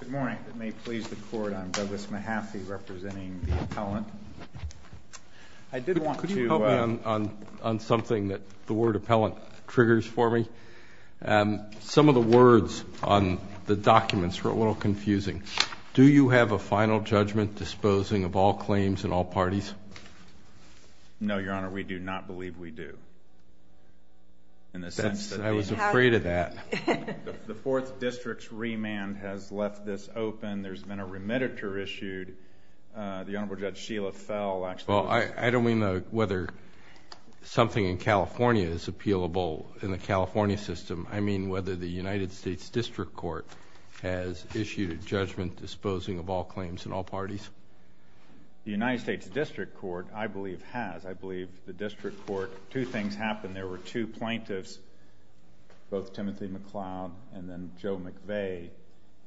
Good morning. It may please the court, I'm Douglas Mahaffey representing the appellant. Could you help me on something that the word appellant triggers for me? Some of the words on the documents were a little confusing. Do you have a final judgment disposing of all claims in all parties? No, Your Honor, we do not believe we do. I was afraid of that. The Fourth District's remand has left this open. There's been a remediator issued. The Honorable Judge Sheila Fell actually... Well, I don't mean whether something in California is appealable in the California system. I mean whether the United States District Court has issued a judgment disposing of all claims in all parties. The United States District Court, I believe, has. I believe the District Court... two things happened. When there were two plaintiffs, both Tymothy MacLeod and then Joe McVeigh,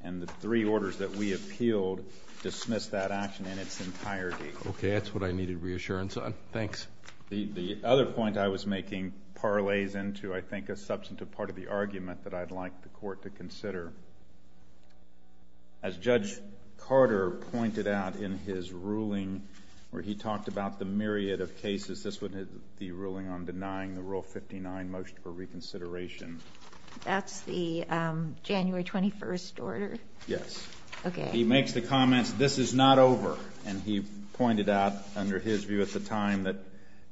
and the three orders that we appealed dismissed that action in its entirety. Okay, that's what I needed reassurance on. Thanks. The other point I was making parlays into, I think, a substantive part of the argument that I'd like the court to consider. As Judge Carter pointed out in his ruling where he talked about the myriad of cases, this would be the ruling on denying the Rule 59 motion for reconsideration. That's the January 21st order? Yes. Okay. He makes the comments, this is not over, and he pointed out under his view at the time that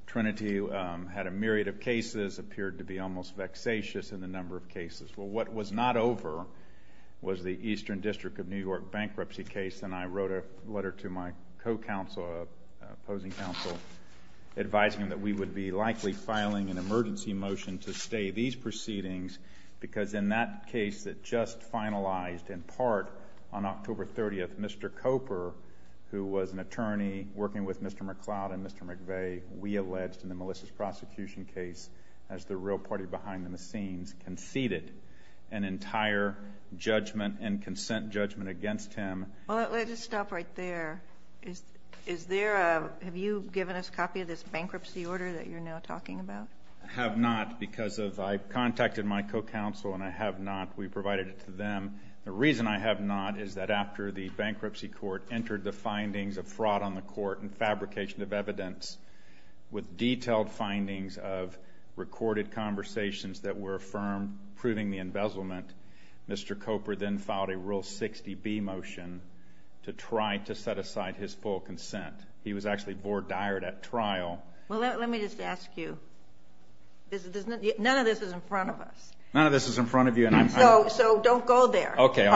Trinity had a myriad of cases, appeared to be almost vexatious in the number of cases. Well, what was not over was the Eastern District of New York bankruptcy case, and I wrote a letter to my co-counsel, opposing counsel, advising that we would be likely filing an emergency motion to stay these proceedings because in that case that just finalized in part on October 30th, Mr. Coper, who was an attorney working with Mr. MacLeod and Mr. McVeigh, we alleged in the Melissa's prosecution case, as the real party behind the scenes, conceded an entire judgment and consent judgment against him. Well, let's just stop right there. Have you given us a copy of this bankruptcy order that you're now talking about? I have not because I contacted my co-counsel and I have not. We provided it to them. The reason I have not is that after the bankruptcy court entered the findings of fraud on the court and fabrication of evidence with detailed findings of recorded conversations that were firm, proving the embezzlement, Mr. Coper then filed a Rule 60B motion to try to set aside his full consent. He was actually bored dired at trial. Well, let me just ask you. None of this is in front of us. None of this is in front of you. So don't go there. Okay.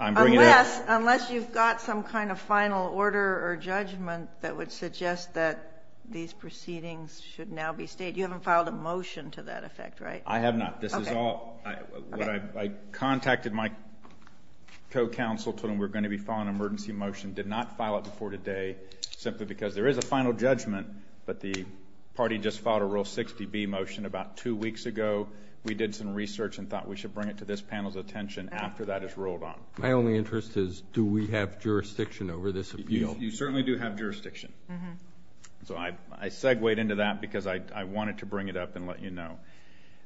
Unless you've got some kind of final order or judgment that would suggest that these proceedings should now be stated. You haven't filed a motion to that effect, right? I have not. This is all I contacted my co-counsel, told him we're going to be filing an emergency motion, did not file it before today simply because there is a final judgment, but the party just filed a Rule 60B motion about two weeks ago. We did some research and thought we should bring it to this panel's attention after that is ruled on. My only interest is do we have jurisdiction over this appeal? Well, you certainly do have jurisdiction. So I segued into that because I wanted to bring it up and let you know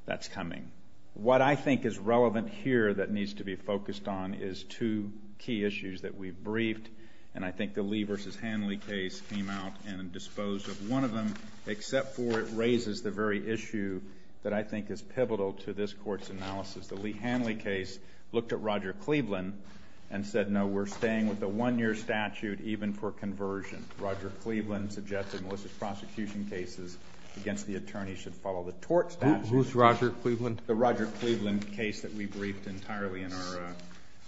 that's coming. What I think is relevant here that needs to be focused on is two key issues that we've briefed, and I think the Lee v. Hanley case came out and disposed of one of them, except for it raises the very issue that I think is pivotal to this Court's analysis. The Lee-Hanley case looked at Roger Cleveland and said, No, we're staying with the 1-year statute even for conversion. Roger Cleveland suggested malicious prosecution cases against the attorney should follow the tort statute. Roberts. Who's Roger Cleveland? The Roger Cleveland case that we briefed entirely in our,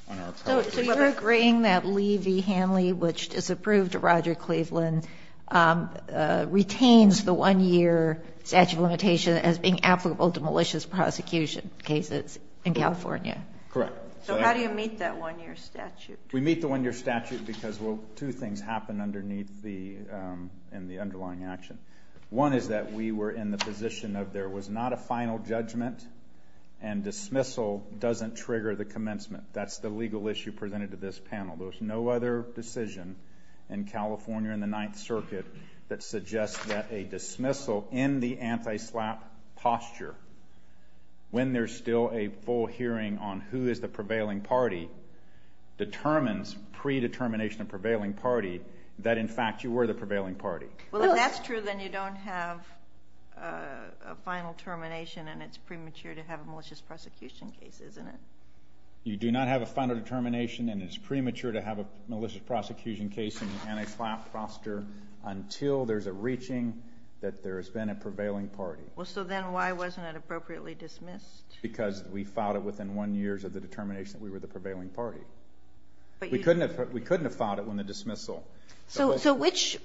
on our part. So you're agreeing that Lee v. Hanley, which disapproved Roger Cleveland, retains the 1-year statute of limitation as being applicable to malicious prosecution cases in California? Correct. So how do you meet that 1-year statute? We meet the 1-year statute because, well, two things happen underneath the, in the underlying action. One is that we were in the position of there was not a final judgment and dismissal doesn't trigger the commencement. That's the legal issue presented to this panel. There was no other decision in California in the Ninth Circuit that suggests that a dismissal in the anti-SLAPP posture, when there's still a full hearing on who is the prevailing party, determines predetermination of prevailing party that, in fact, you were the prevailing party. Well, if that's true, then you don't have a final termination and it's premature to have a malicious prosecution case, isn't it? You do not have a final determination and it's premature to have a malicious prosecution case in the anti-SLAPP posture until there's a reaching that there has been a prevailing party. Well, so then why wasn't it appropriately dismissed? Because we filed it within one year of the determination that we were the prevailing party. We couldn't have filed it when the dismissal. So which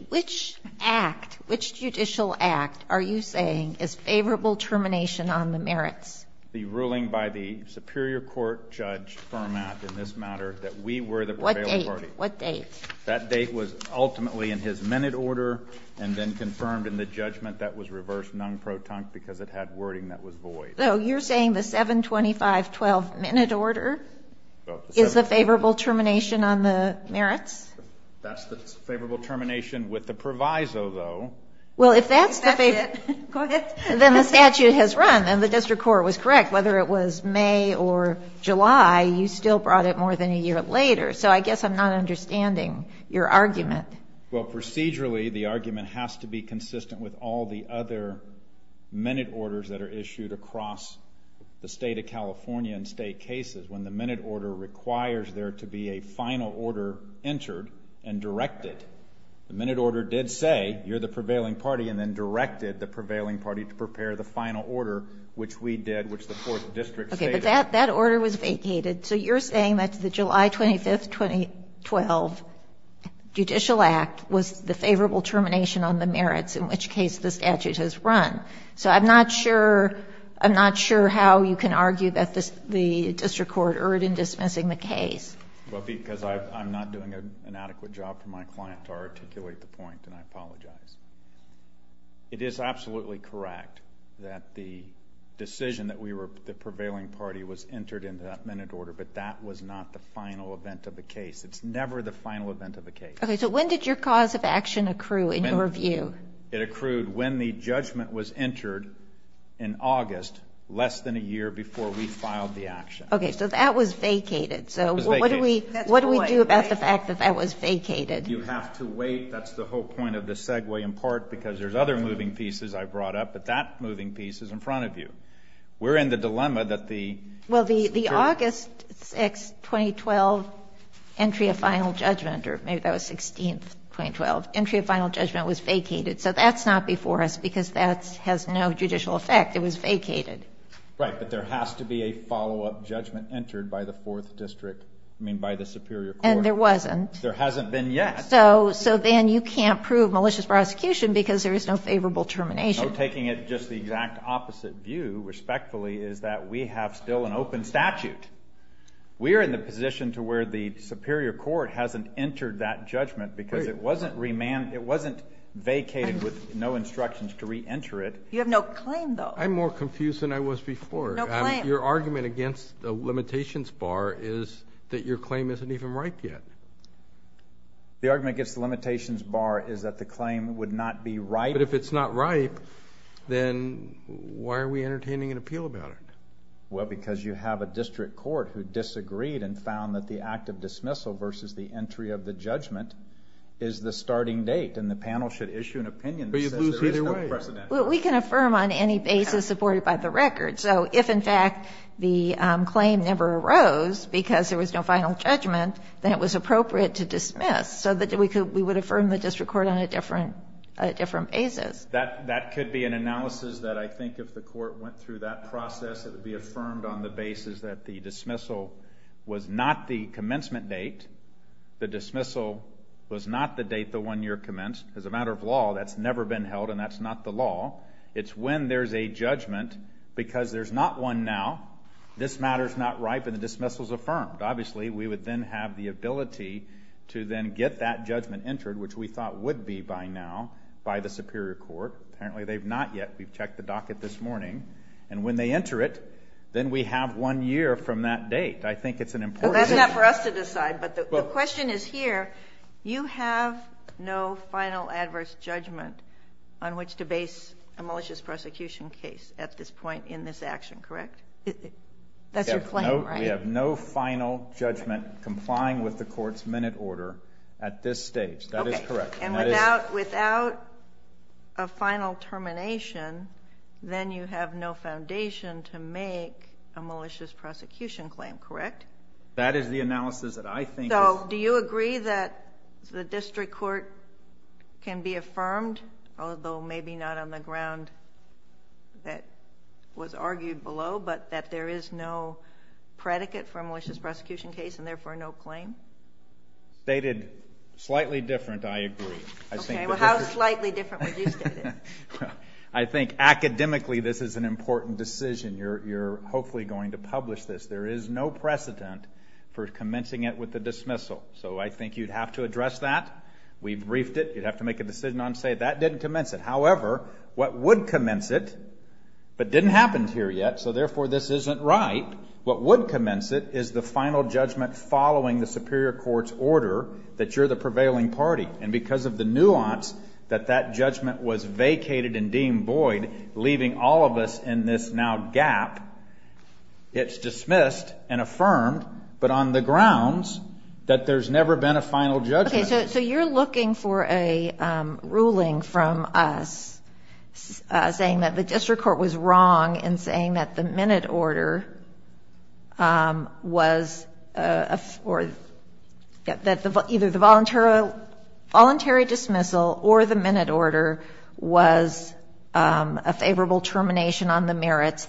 act, which judicial act are you saying is favorable termination on the merits? The ruling by the Superior Court Judge Fermat in this matter that we were the prevailing party. What date? That date was ultimately in his minute order and then confirmed in the judgment that was reversed non-proton because it had wording that was void. So you're saying the 7-25-12 minute order is the favorable termination on the merits? That's the favorable termination with the proviso, though. Well, if that's the favorite, then the statute has run and the district court was correct. Whether it was May or July, you still brought it more than a year later. So I guess I'm not understanding your argument. Well, procedurally, the argument has to be consistent with all the other minute orders that are issued across the State of California in State cases. When the minute order requires there to be a final order entered and directed, the minute order did say you're the prevailing party and then directed the prevailing party to prepare the final order, which we did, which the 4th District stated. Okay, but that order was vacated. So you're saying that the July 25, 2012 Judicial Act was the favorable termination on the merits, in which case the statute has run. So I'm not sure how you can argue that the district court erred in dismissing the case. Well, because I'm not doing an adequate job for my client to articulate the point, and I apologize. It is absolutely correct that the decision that we were the prevailing party was entered into that minute order, but that was not the final event of the case. It's never the final event of the case. Okay, so when did your cause of action accrue in your view? It accrued when the judgment was entered in August, less than a year before we filed the action. Okay, so that was vacated. It was vacated. So what do we do about the fact that that was vacated? You have to wait. That's the whole point of the segue in part because there's other moving pieces I brought up, but that moving piece is in front of you. We're in the dilemma that the church. Well, the August 6, 2012, entry of final judgment, or maybe that was 16, 2012, entry of final judgment was vacated. So that's not before us because that has no judicial effect. It was vacated. Right, but there has to be a follow-up judgment entered by the Fourth District, I mean by the superior court. And there wasn't. There hasn't been yet. So then you can't prove malicious prosecution because there is no favorable termination. You know, taking it just the exact opposite view, respectfully, is that we have still an open statute. We are in the position to where the superior court hasn't entered that judgment because it wasn't vacated with no instructions to reenter it. You have no claim, though. I'm more confused than I was before. No claim. Your argument against the limitations bar is that your claim isn't even ripe yet. The argument against the limitations bar is that the claim would not be ripe. But if it's not ripe, then why are we entertaining an appeal about it? Well, because you have a district court who disagreed and found that the act of dismissal versus the entry of the judgment is the starting date, and the panel should issue an opinion that says there is no precedent. We can affirm on any basis supported by the record. So if, in fact, the claim never arose because there was no final judgment, then it was appropriate to dismiss so that we would affirm the district court on a different basis. That could be an analysis that I think if the court went through that process, it would be affirmed on the basis that the dismissal was not the commencement date. The dismissal was not the date the one year commenced. As a matter of law, that's never been held, and that's not the law. It's when there's a judgment because there's not one now. This matter is not ripe, and the dismissal is affirmed. Obviously, we would then have the ability to then get that judgment entered, which we thought would be by now, by the superior court. Apparently they've not yet. We've checked the docket this morning. And when they enter it, then we have one year from that date. I think it's an important issue. Well, that's not for us to decide, but the question is here. You have no final adverse judgment on which to base a malicious prosecution case at this point in this action, correct? That's your claim, right? We have no final judgment complying with the court's minute order at this stage. That is correct. And without a final termination, then you have no foundation to make a malicious prosecution claim, correct? That is the analysis that I think is— So do you agree that the district court can be affirmed, although maybe not on the ground that was argued below, but that there is no predicate for a malicious prosecution case and therefore no claim? Stated slightly different, I agree. Okay. Well, how slightly different would you state it? I think academically this is an important decision. You're hopefully going to publish this. There is no precedent for commencing it with a dismissal. So I think you'd have to address that. We've briefed it. You'd have to make a decision on, say, that didn't commence it. However, what would commence it but didn't happen here yet, so therefore this isn't right, what would commence it is the final judgment following the superior court's order that you're the prevailing party. And because of the nuance that that judgment was vacated and deemed void, leaving all of us in this now gap, it's dismissed and affirmed but on the grounds that there's never been a final judgment. Okay. So you're looking for a ruling from us saying that the district court was wrong in saying that the minute order was either the voluntary dismissal or the minute order was a favorable termination on the merits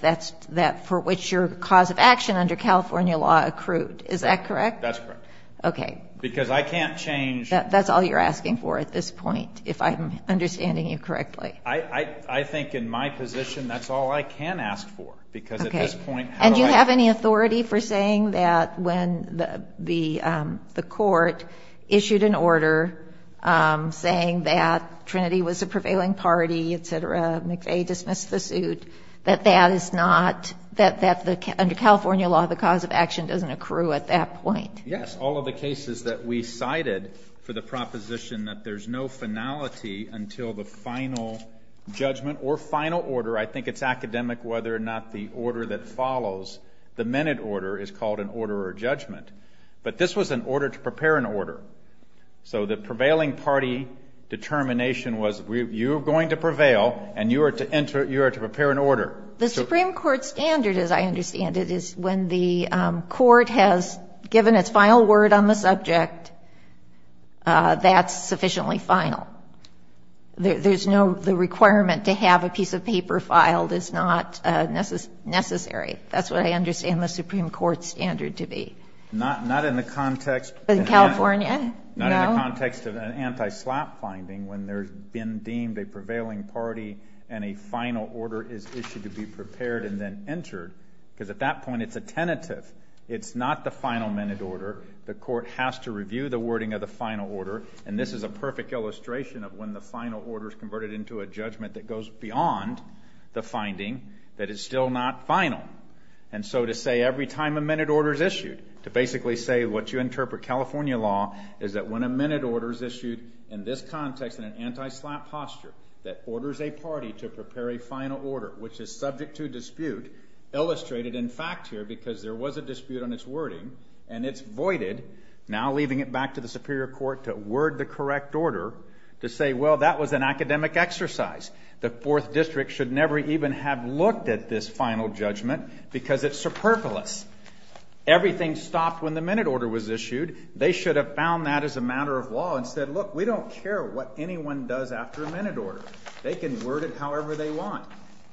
for which your cause of action under California law accrued. Is that correct? That's correct. Okay. Because I can't change. That's all you're asking for at this point, if I'm understanding you correctly. I think in my position that's all I can ask for. Okay. Because at this point how do I? And do you have any authority for saying that when the court issued an order saying that Trinity was a prevailing party, et cetera, McVeigh dismissed the suit, that that is not, that under California law the cause of action doesn't accrue at that point? Yes. All of the cases that we cited for the proposition that there's no finality until the final judgment or final order, I think it's academic whether or not the order that follows the minute order is called an order or judgment. But this was an order to prepare an order. So the prevailing party determination was you are going to prevail and you are to enter, you are to prepare an order. The Supreme Court standard, as I understand it, is when the court has given its final word on the subject, that's sufficiently final. There's no, the requirement to have a piece of paper filed is not necessary. That's what I understand the Supreme Court standard to be. Not in the context. In California? No. In the context of an anti-slap finding when there's been deemed a prevailing party and a final order is issued to be prepared and then entered, because at that point it's a tentative. It's not the final minute order. The court has to review the wording of the final order, and this is a perfect illustration of when the final order is converted into a judgment that goes beyond the finding that is still not final. And so to say every time a minute order is issued, to basically say what you interpret California law, is that when a minute order is issued in this context in an anti-slap posture that orders a party to prepare a final order, which is subject to dispute, illustrated in fact here because there was a dispute on its wording, and it's voided, now leaving it back to the Superior Court to word the correct order to say, well, that was an academic exercise. The Fourth District should never even have looked at this final judgment because it's superfluous. Everything stopped when the minute order was issued. They should have found that as a matter of law and said, look, we don't care what anyone does after a minute order. They can word it however they want.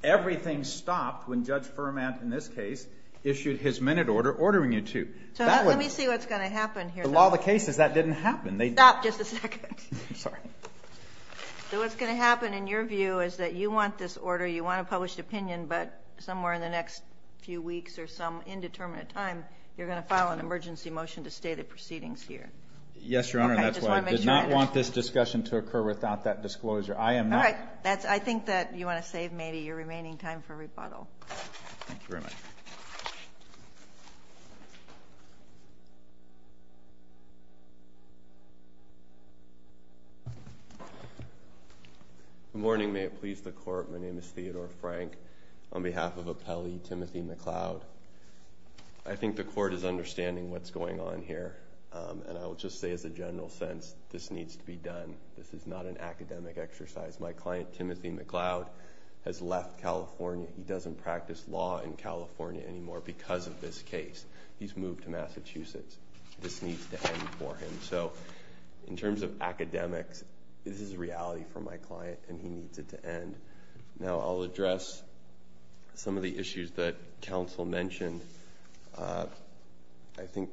Everything stopped when Judge Furman, in this case, issued his minute order ordering you to. So let me see what's going to happen here. The law of the case is that didn't happen. Stop just a second. I'm sorry. So what's going to happen in your view is that you want this order, you want a published opinion, but somewhere in the next few weeks or some indeterminate time, you're going to file an emergency motion to stay the proceedings here. Yes, Your Honor, and that's why I did not want this discussion to occur without that disclosure. I am not. All right. I think that you want to save maybe your remaining time for rebuttal. Thank you very much. Good morning. May it please the Court. My name is Theodore Frank on behalf of Appellee Timothy McLeod. I think the Court is understanding what's going on here, and I will just say as a general sense, this needs to be done. This is not an academic exercise. My client, Timothy McLeod, has left California. He doesn't practice law in California anymore because of this case. He's moved to Massachusetts. This needs to end for him. In terms of academics, this is reality for my client, and he needs it to end. Now, I'll address some of the issues that counsel mentioned. I think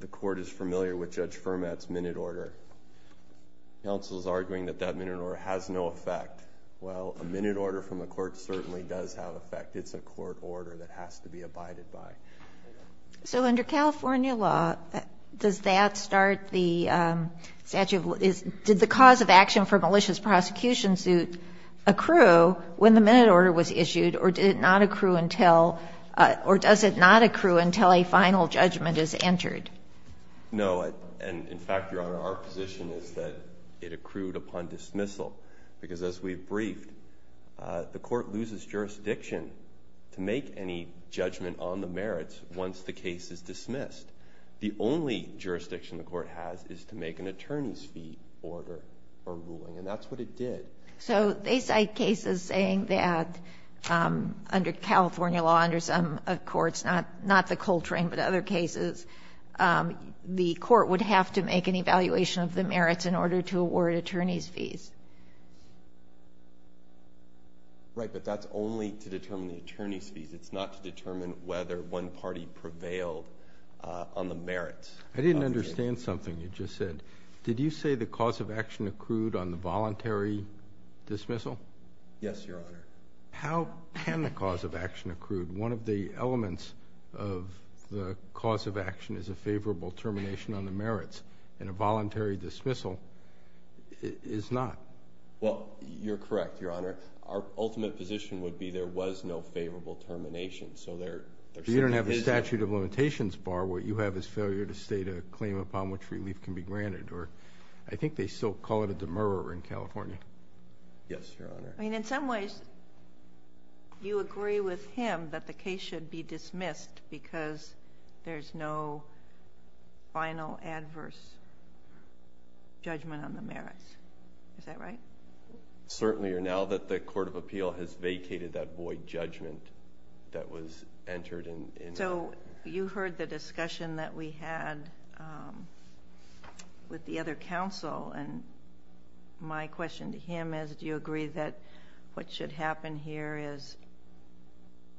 the Court is familiar with Judge Fermat's minute order. Counsel is arguing that that minute order has no effect. Well, a minute order from the Court certainly does have effect. It's a court order that has to be abided by. So under California law, does that start the statute? Did the cause of action for malicious prosecution suit accrue when the minute order was issued, or does it not accrue until a final judgment is entered? No. And, in fact, Your Honor, our position is that it accrued upon dismissal because, as we've briefed, the Court loses jurisdiction to make any judgment on the merits once the case is dismissed. The only jurisdiction the Court has is to make an attorney's fee order for ruling, and that's what it did. So they cite cases saying that under California law, under some courts, not the Coltrane but other cases, the Court would have to make an evaluation of the merits in order to award attorney's fees. Right, but that's only to determine the attorney's fees. It's not to determine whether one party prevailed on the merits. I didn't understand something you just said. Did you say the cause of action accrued on the voluntary dismissal? Yes, Your Honor. How can the cause of action accrue? One of the elements of the cause of action is a favorable termination on the merits, and a voluntary dismissal is not. Well, you're correct, Your Honor. Our ultimate position would be there was no favorable termination, so there simply is not. If you don't have a statute of limitations bar, what you have is failure to state a claim upon which relief can be granted. I think they still call it a demurrer in California. Yes, Your Honor. In some ways, you agree with him that the case should be dismissed because there's no final adverse judgment on the merits. Is that right? Certainly. Now that the Court of Appeal has vacated that void judgment that was entered. You heard the discussion that we had with the other counsel, and my question to him is do you agree that what should happen here is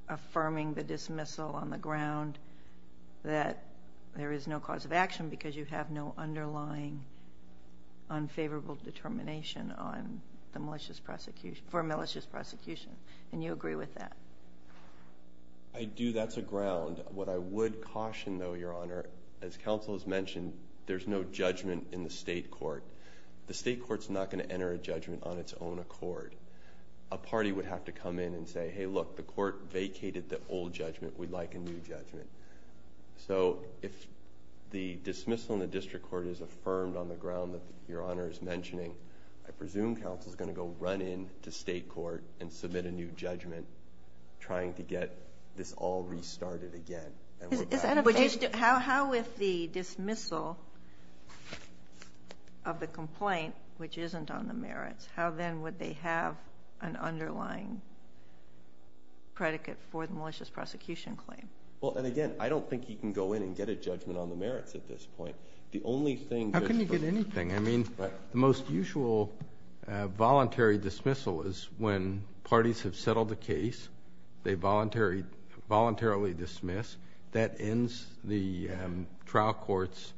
affirming the dismissal on the ground that there is no cause of action because you have no underlying unfavorable determination for malicious prosecution? And you agree with that? I do. That's a ground. What I would caution, though, Your Honor, as counsel has mentioned, there's no judgment in the state court. The state court is not going to enter a judgment on its own accord. A party would have to come in and say, hey, look, the court vacated the old judgment. We'd like a new judgment. So if the dismissal in the district court is affirmed on the ground that Your Honor is mentioning, I presume counsel is going to go run in to state court and submit a new judgment trying to get this all restarted again. How if the dismissal of the complaint, which isn't on the merits, how then would they have an underlying predicate for the malicious prosecution claim? Again, I don't think you can go in and get a judgment on the merits at this point. How can you get anything? The most usual voluntary dismissal is when parties have settled the case, they voluntarily dismiss. That ends the trial court's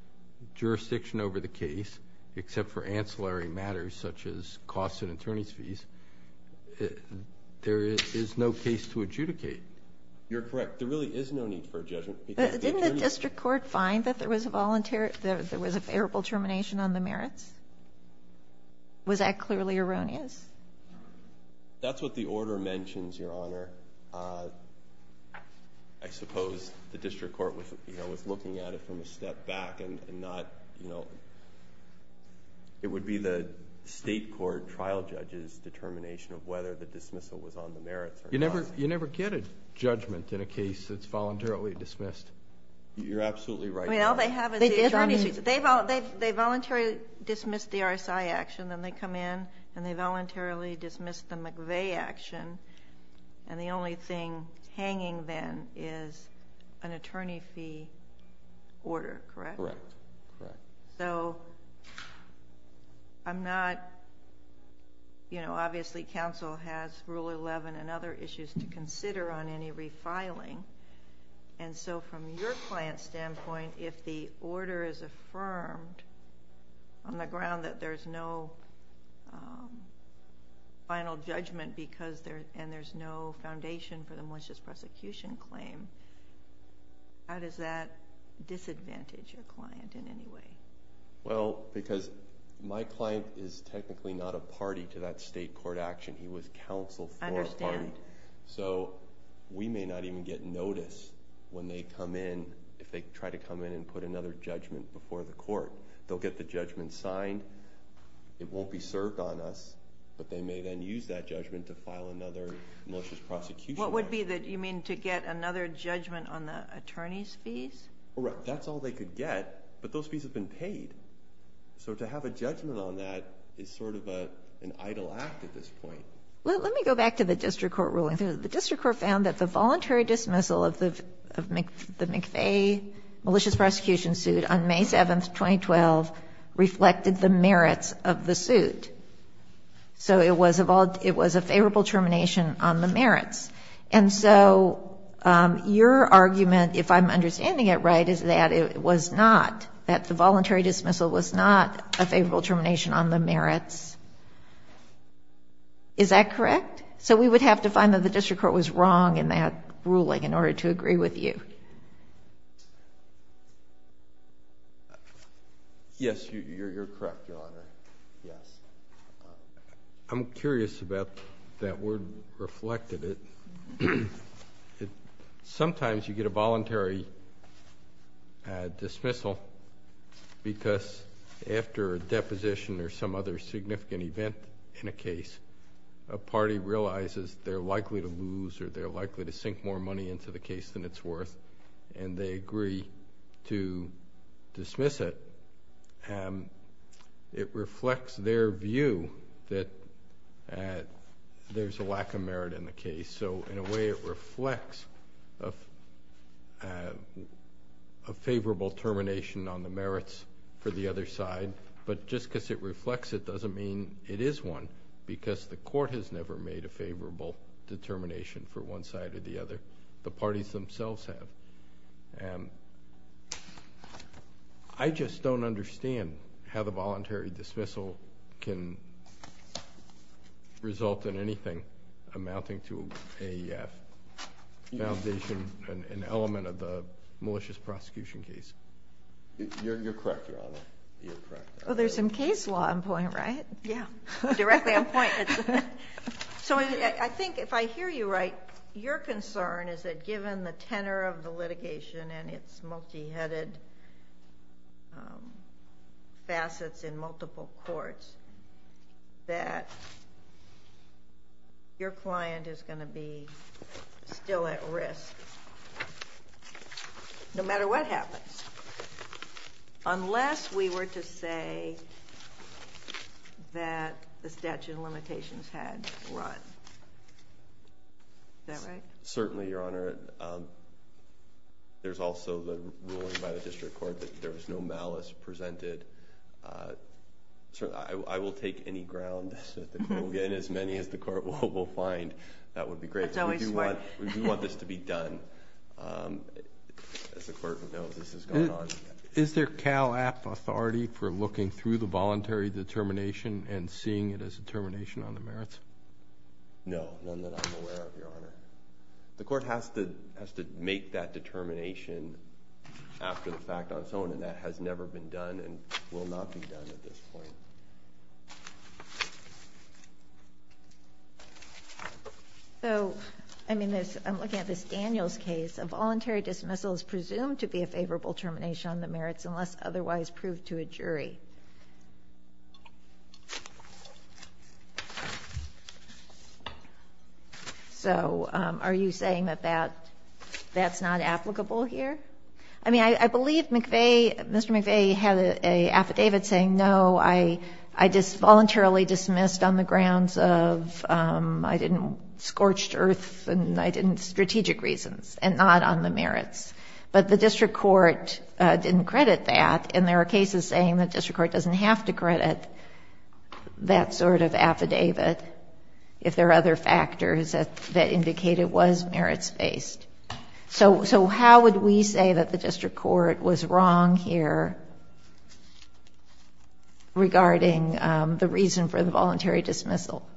jurisdiction over the case, except for ancillary matters such as costs and attorney's fees. There is no case to adjudicate. You're correct. There really is no need for a judgment. Didn't the district court find that there was a favorable termination on the merits? Was that clearly erroneous? That's what the order mentions, Your Honor. I suppose the district court was looking at it from a step back. It would be the state court trial judge's determination of whether the dismissal was on the merits or not. You never get a judgment in a case that's voluntarily dismissed. You're absolutely right. All they have is the attorney's fees. They voluntarily dismiss the RSI action, then they come in and they voluntarily dismiss the McVeigh action. The only thing hanging then is an attorney fee order. Correct? Correct. Obviously, counsel has Rule 11 and other issues to consider on any refiling. From your client's standpoint, if the order is affirmed on the ground that there's no final judgment and there's no foundation for the malicious prosecution claim, how does that disadvantage your client in any way? Because my client is technically not a party to that state court action. I understand. We may not even get notice when they come in, if they try to come in and put another judgment before the court. They'll get the judgment signed. It won't be served on us, but they may then use that judgment to file another malicious prosecution. What would be the... you mean to get another judgment on the attorney's fees? That's all they could get, but those fees have been paid. To have a judgment on that is sort of an idle act at this point. Let me go back to the district court ruling. The district court found that the voluntary dismissal of the McVeigh malicious prosecution suit on May 7, 2012 reflected the merits of the suit. So it was a favorable termination on the merits. And so your argument, if I'm understanding it right, is that it was not, that the voluntary dismissal was not a favorable termination on the merits. Is that correct? So we would have to find that the district court was wrong in that ruling in order to agree with you. Yes, you're correct, Your Honor. I'm curious about that word reflected. Sometimes you get a voluntary dismissal because after a deposition or some other significant event in a case, a party realizes they're likely to lose or they're likely to sink more money into the case than it's worth, and they agree to dismiss it. It reflects their view that there's a lack of merit in the case. And so in a way it reflects a favorable termination on the merits for the other side. But just because it reflects it doesn't mean it is one because the court has never made a favorable determination for one side or the other. The parties themselves have. I just don't understand how the voluntary dismissal can result in anything amounting to a foundation, an element of the malicious prosecution case. You're correct, Your Honor. You're correct. Well, there's some case law on point, right? Yeah, directly on point. So I think if I hear you right, your concern is that given the tenor of the litigation and its multi-headed facets in multiple courts, that your client is going to be still at risk no matter what happens, unless we were to say that the statute of limitations had run. Is that right? Certainly, Your Honor. There's also the ruling by the district court that there was no malice presented. I will take any ground that we'll get, and as many as the court will find, that would be great. That's always smart. We do want this to be done. As the court knows, this is going on. Is there Cal-App authority for looking through the voluntary determination and seeing it as a termination on the merits? No, none that I'm aware of, Your Honor. The court has to make that determination after the fact on its own, and that has never been done and will not be done at this point. So I'm looking at this Daniels case. A voluntary dismissal is presumed to be a favorable termination on the merits unless otherwise proved to a jury. So are you saying that that's not applicable here? I mean, I believe Mr. McVeigh had an affidavit saying, no, I just voluntarily dismissed on the grounds of I didn't scorched earth and I didn't strategic reasons, and not on the merits. But the district court didn't credit that, and there are cases saying the district court doesn't have to credit that sort of affidavit if there are other factors that indicate it was merits-based. So how would we say that the district court was wrong here regarding the reason for the voluntary dismissal?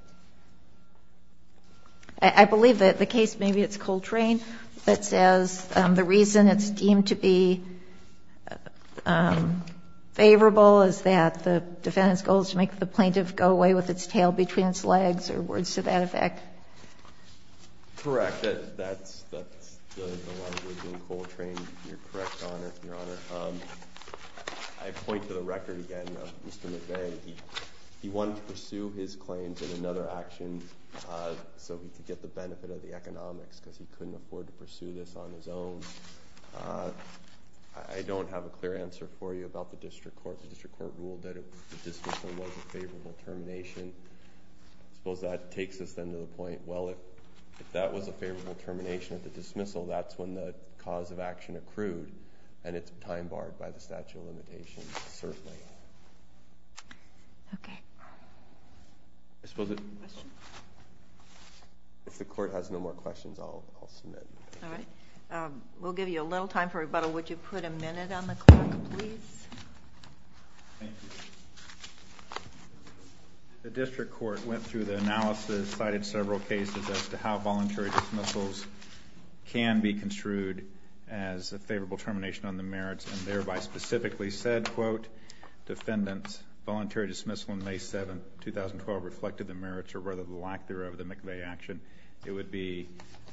I believe that the case, maybe it's Coltrane, that says the reason it's deemed to be favorable is that the defendant's goal is to make the plaintiff go away with its tail between its legs, or words to that effect. Correct. That's the language in Coltrane. You're correct, Your Honor. I point to the record again of Mr. McVeigh. He wanted to pursue his claims in another action so he could get the benefit of the economics because he couldn't afford to pursue this on his own. I don't have a clear answer for you about the district court. The district court ruled that the dismissal was a favorable termination. I suppose that takes us then to the point, well, if that was a favorable termination at the dismissal, that's when the cause of action accrued, and it's time-barred by the statute of limitations, certainly. Okay. I suppose if the court has no more questions, I'll submit. All right. We'll give you a little time for rebuttal. Would you put a minute on the clock, please? Thank you. The district court went through the analysis, cited several cases as to how voluntary dismissals can be construed as a favorable termination on the merits, and thereby specifically said, quote, defendants' voluntary dismissal on May 7, 2012, reflected the merits or rather the lack thereof of the McVeigh action. It would be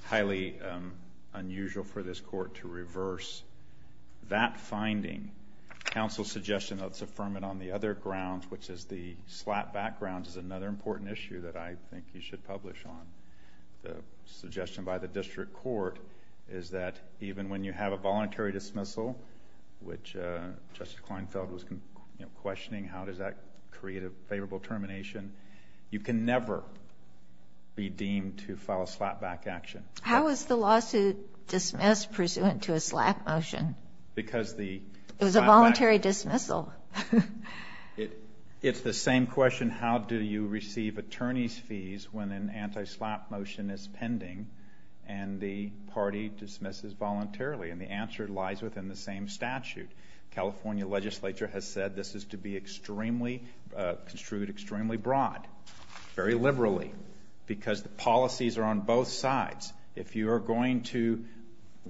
highly unusual for this court to reverse that finding. Counsel's suggestion that it's affirmative on the other grounds, which is the slap background, is another important issue that I think you should publish on. The suggestion by the district court is that even when you have a voluntary dismissal, which Justice Kleinfeld was questioning, how does that create a favorable termination, you can never be deemed to file a slapback action. How was the lawsuit dismissed pursuant to a slap motion? It was a voluntary dismissal. It's the same question, how do you receive attorney's fees when an anti-slap motion is pending and the party dismisses voluntarily? And the answer lies within the same statute. The California legislature has said this is to be extremely, construed extremely broad, very liberally, because the policies are on both sides. If you are going to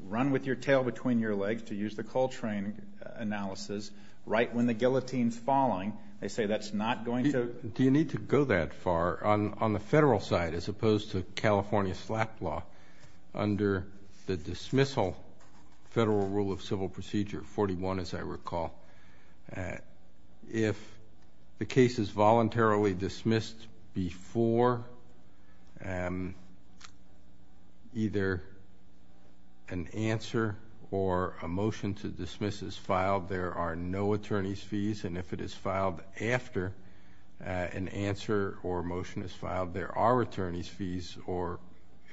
run with your tail between your legs to use the Coltrane analysis right when the guillotine is falling, they say that's not going to. Do you need to go that far on the federal side as opposed to California slap law under the dismissal federal rule of civil procedure 41, as I recall? If the case is voluntarily dismissed before either an answer or a motion to dismiss is filed, there are no attorney's fees. And if it is filed after an answer or a motion is filed, there are attorney's fees, or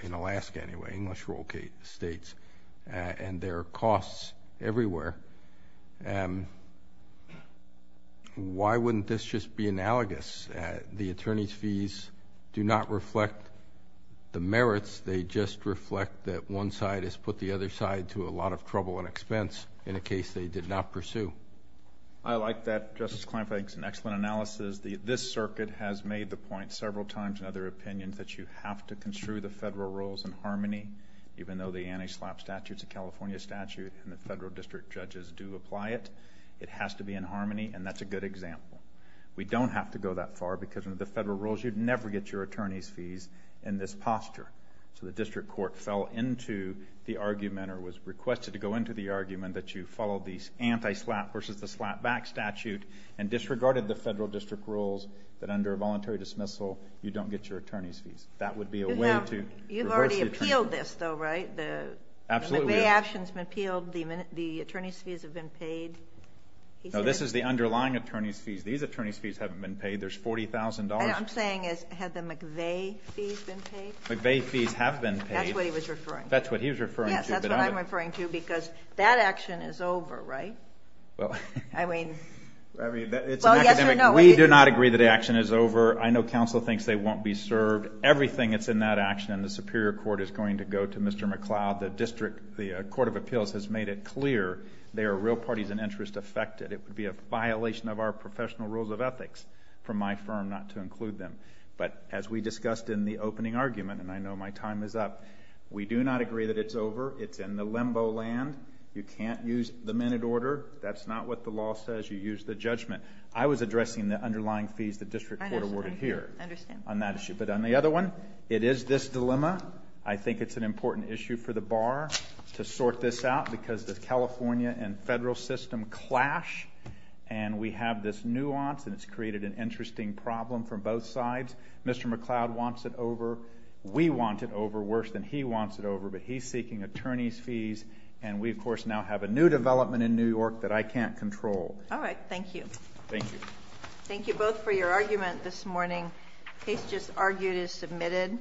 in Alaska anyway, English rule states, and there are costs everywhere. Why wouldn't this just be analogous? The attorney's fees do not reflect the merits. They just reflect that one side has put the other side to a lot of trouble and expense in a case they did not pursue. I like that, Justice Kleinfeld. It's an excellent analysis. This circuit has made the point several times in other opinions that you have to construe the federal rules in harmony, even though the anti-slap statute is a California statute and the federal district judges do apply it. It has to be in harmony, and that's a good example. We don't have to go that far because under the federal rules, you'd never get your attorney's fees in this posture. So the district court fell into the argument or was requested to go into the argument that you follow the anti-slap versus the slap back statute and disregarded the federal district rules that under a voluntary dismissal, you don't get your attorney's fees. That would be a way to reverse the attorney's fees. You've already appealed this, though, right? Absolutely. The McVeigh action has been appealed. The attorney's fees have been paid. No, this is the underlying attorney's fees. These attorney's fees haven't been paid. There's $40,000. What I'm saying is had the McVeigh fees been paid? McVeigh fees have been paid. That's what he was referring to. That's what he was referring to. Yes, that's what I'm referring to because that action is over, right? I mean, well, yes or no. We do not agree that the action is over. I know counsel thinks they won't be served. Everything that's in that action in the Superior Court is going to go to Mr. McCloud. The District Court of Appeals has made it clear there are real parties and interests affected. It would be a violation of our professional rules of ethics for my firm not to include them. But as we discussed in the opening argument, and I know my time is up, we do not agree that it's over. It's in the limbo land. You can't use the minute order. That's not what the law says. You use the judgment. I was addressing the underlying fees the District Court awarded here. I understand. On that issue. But on the other one, it is this dilemma. I think it's an important issue for the bar to sort this out because the California and federal system clash, and we have this nuance, and it's created an interesting problem from both sides. Mr. McCloud wants it over. We want it over worse than he wants it over, but he's seeking attorney's fees, and we, of course, now have a new development in New York that I can't control. All right. Thank you. Thank you. Thank you both for your argument this morning. The case just argued is submitted.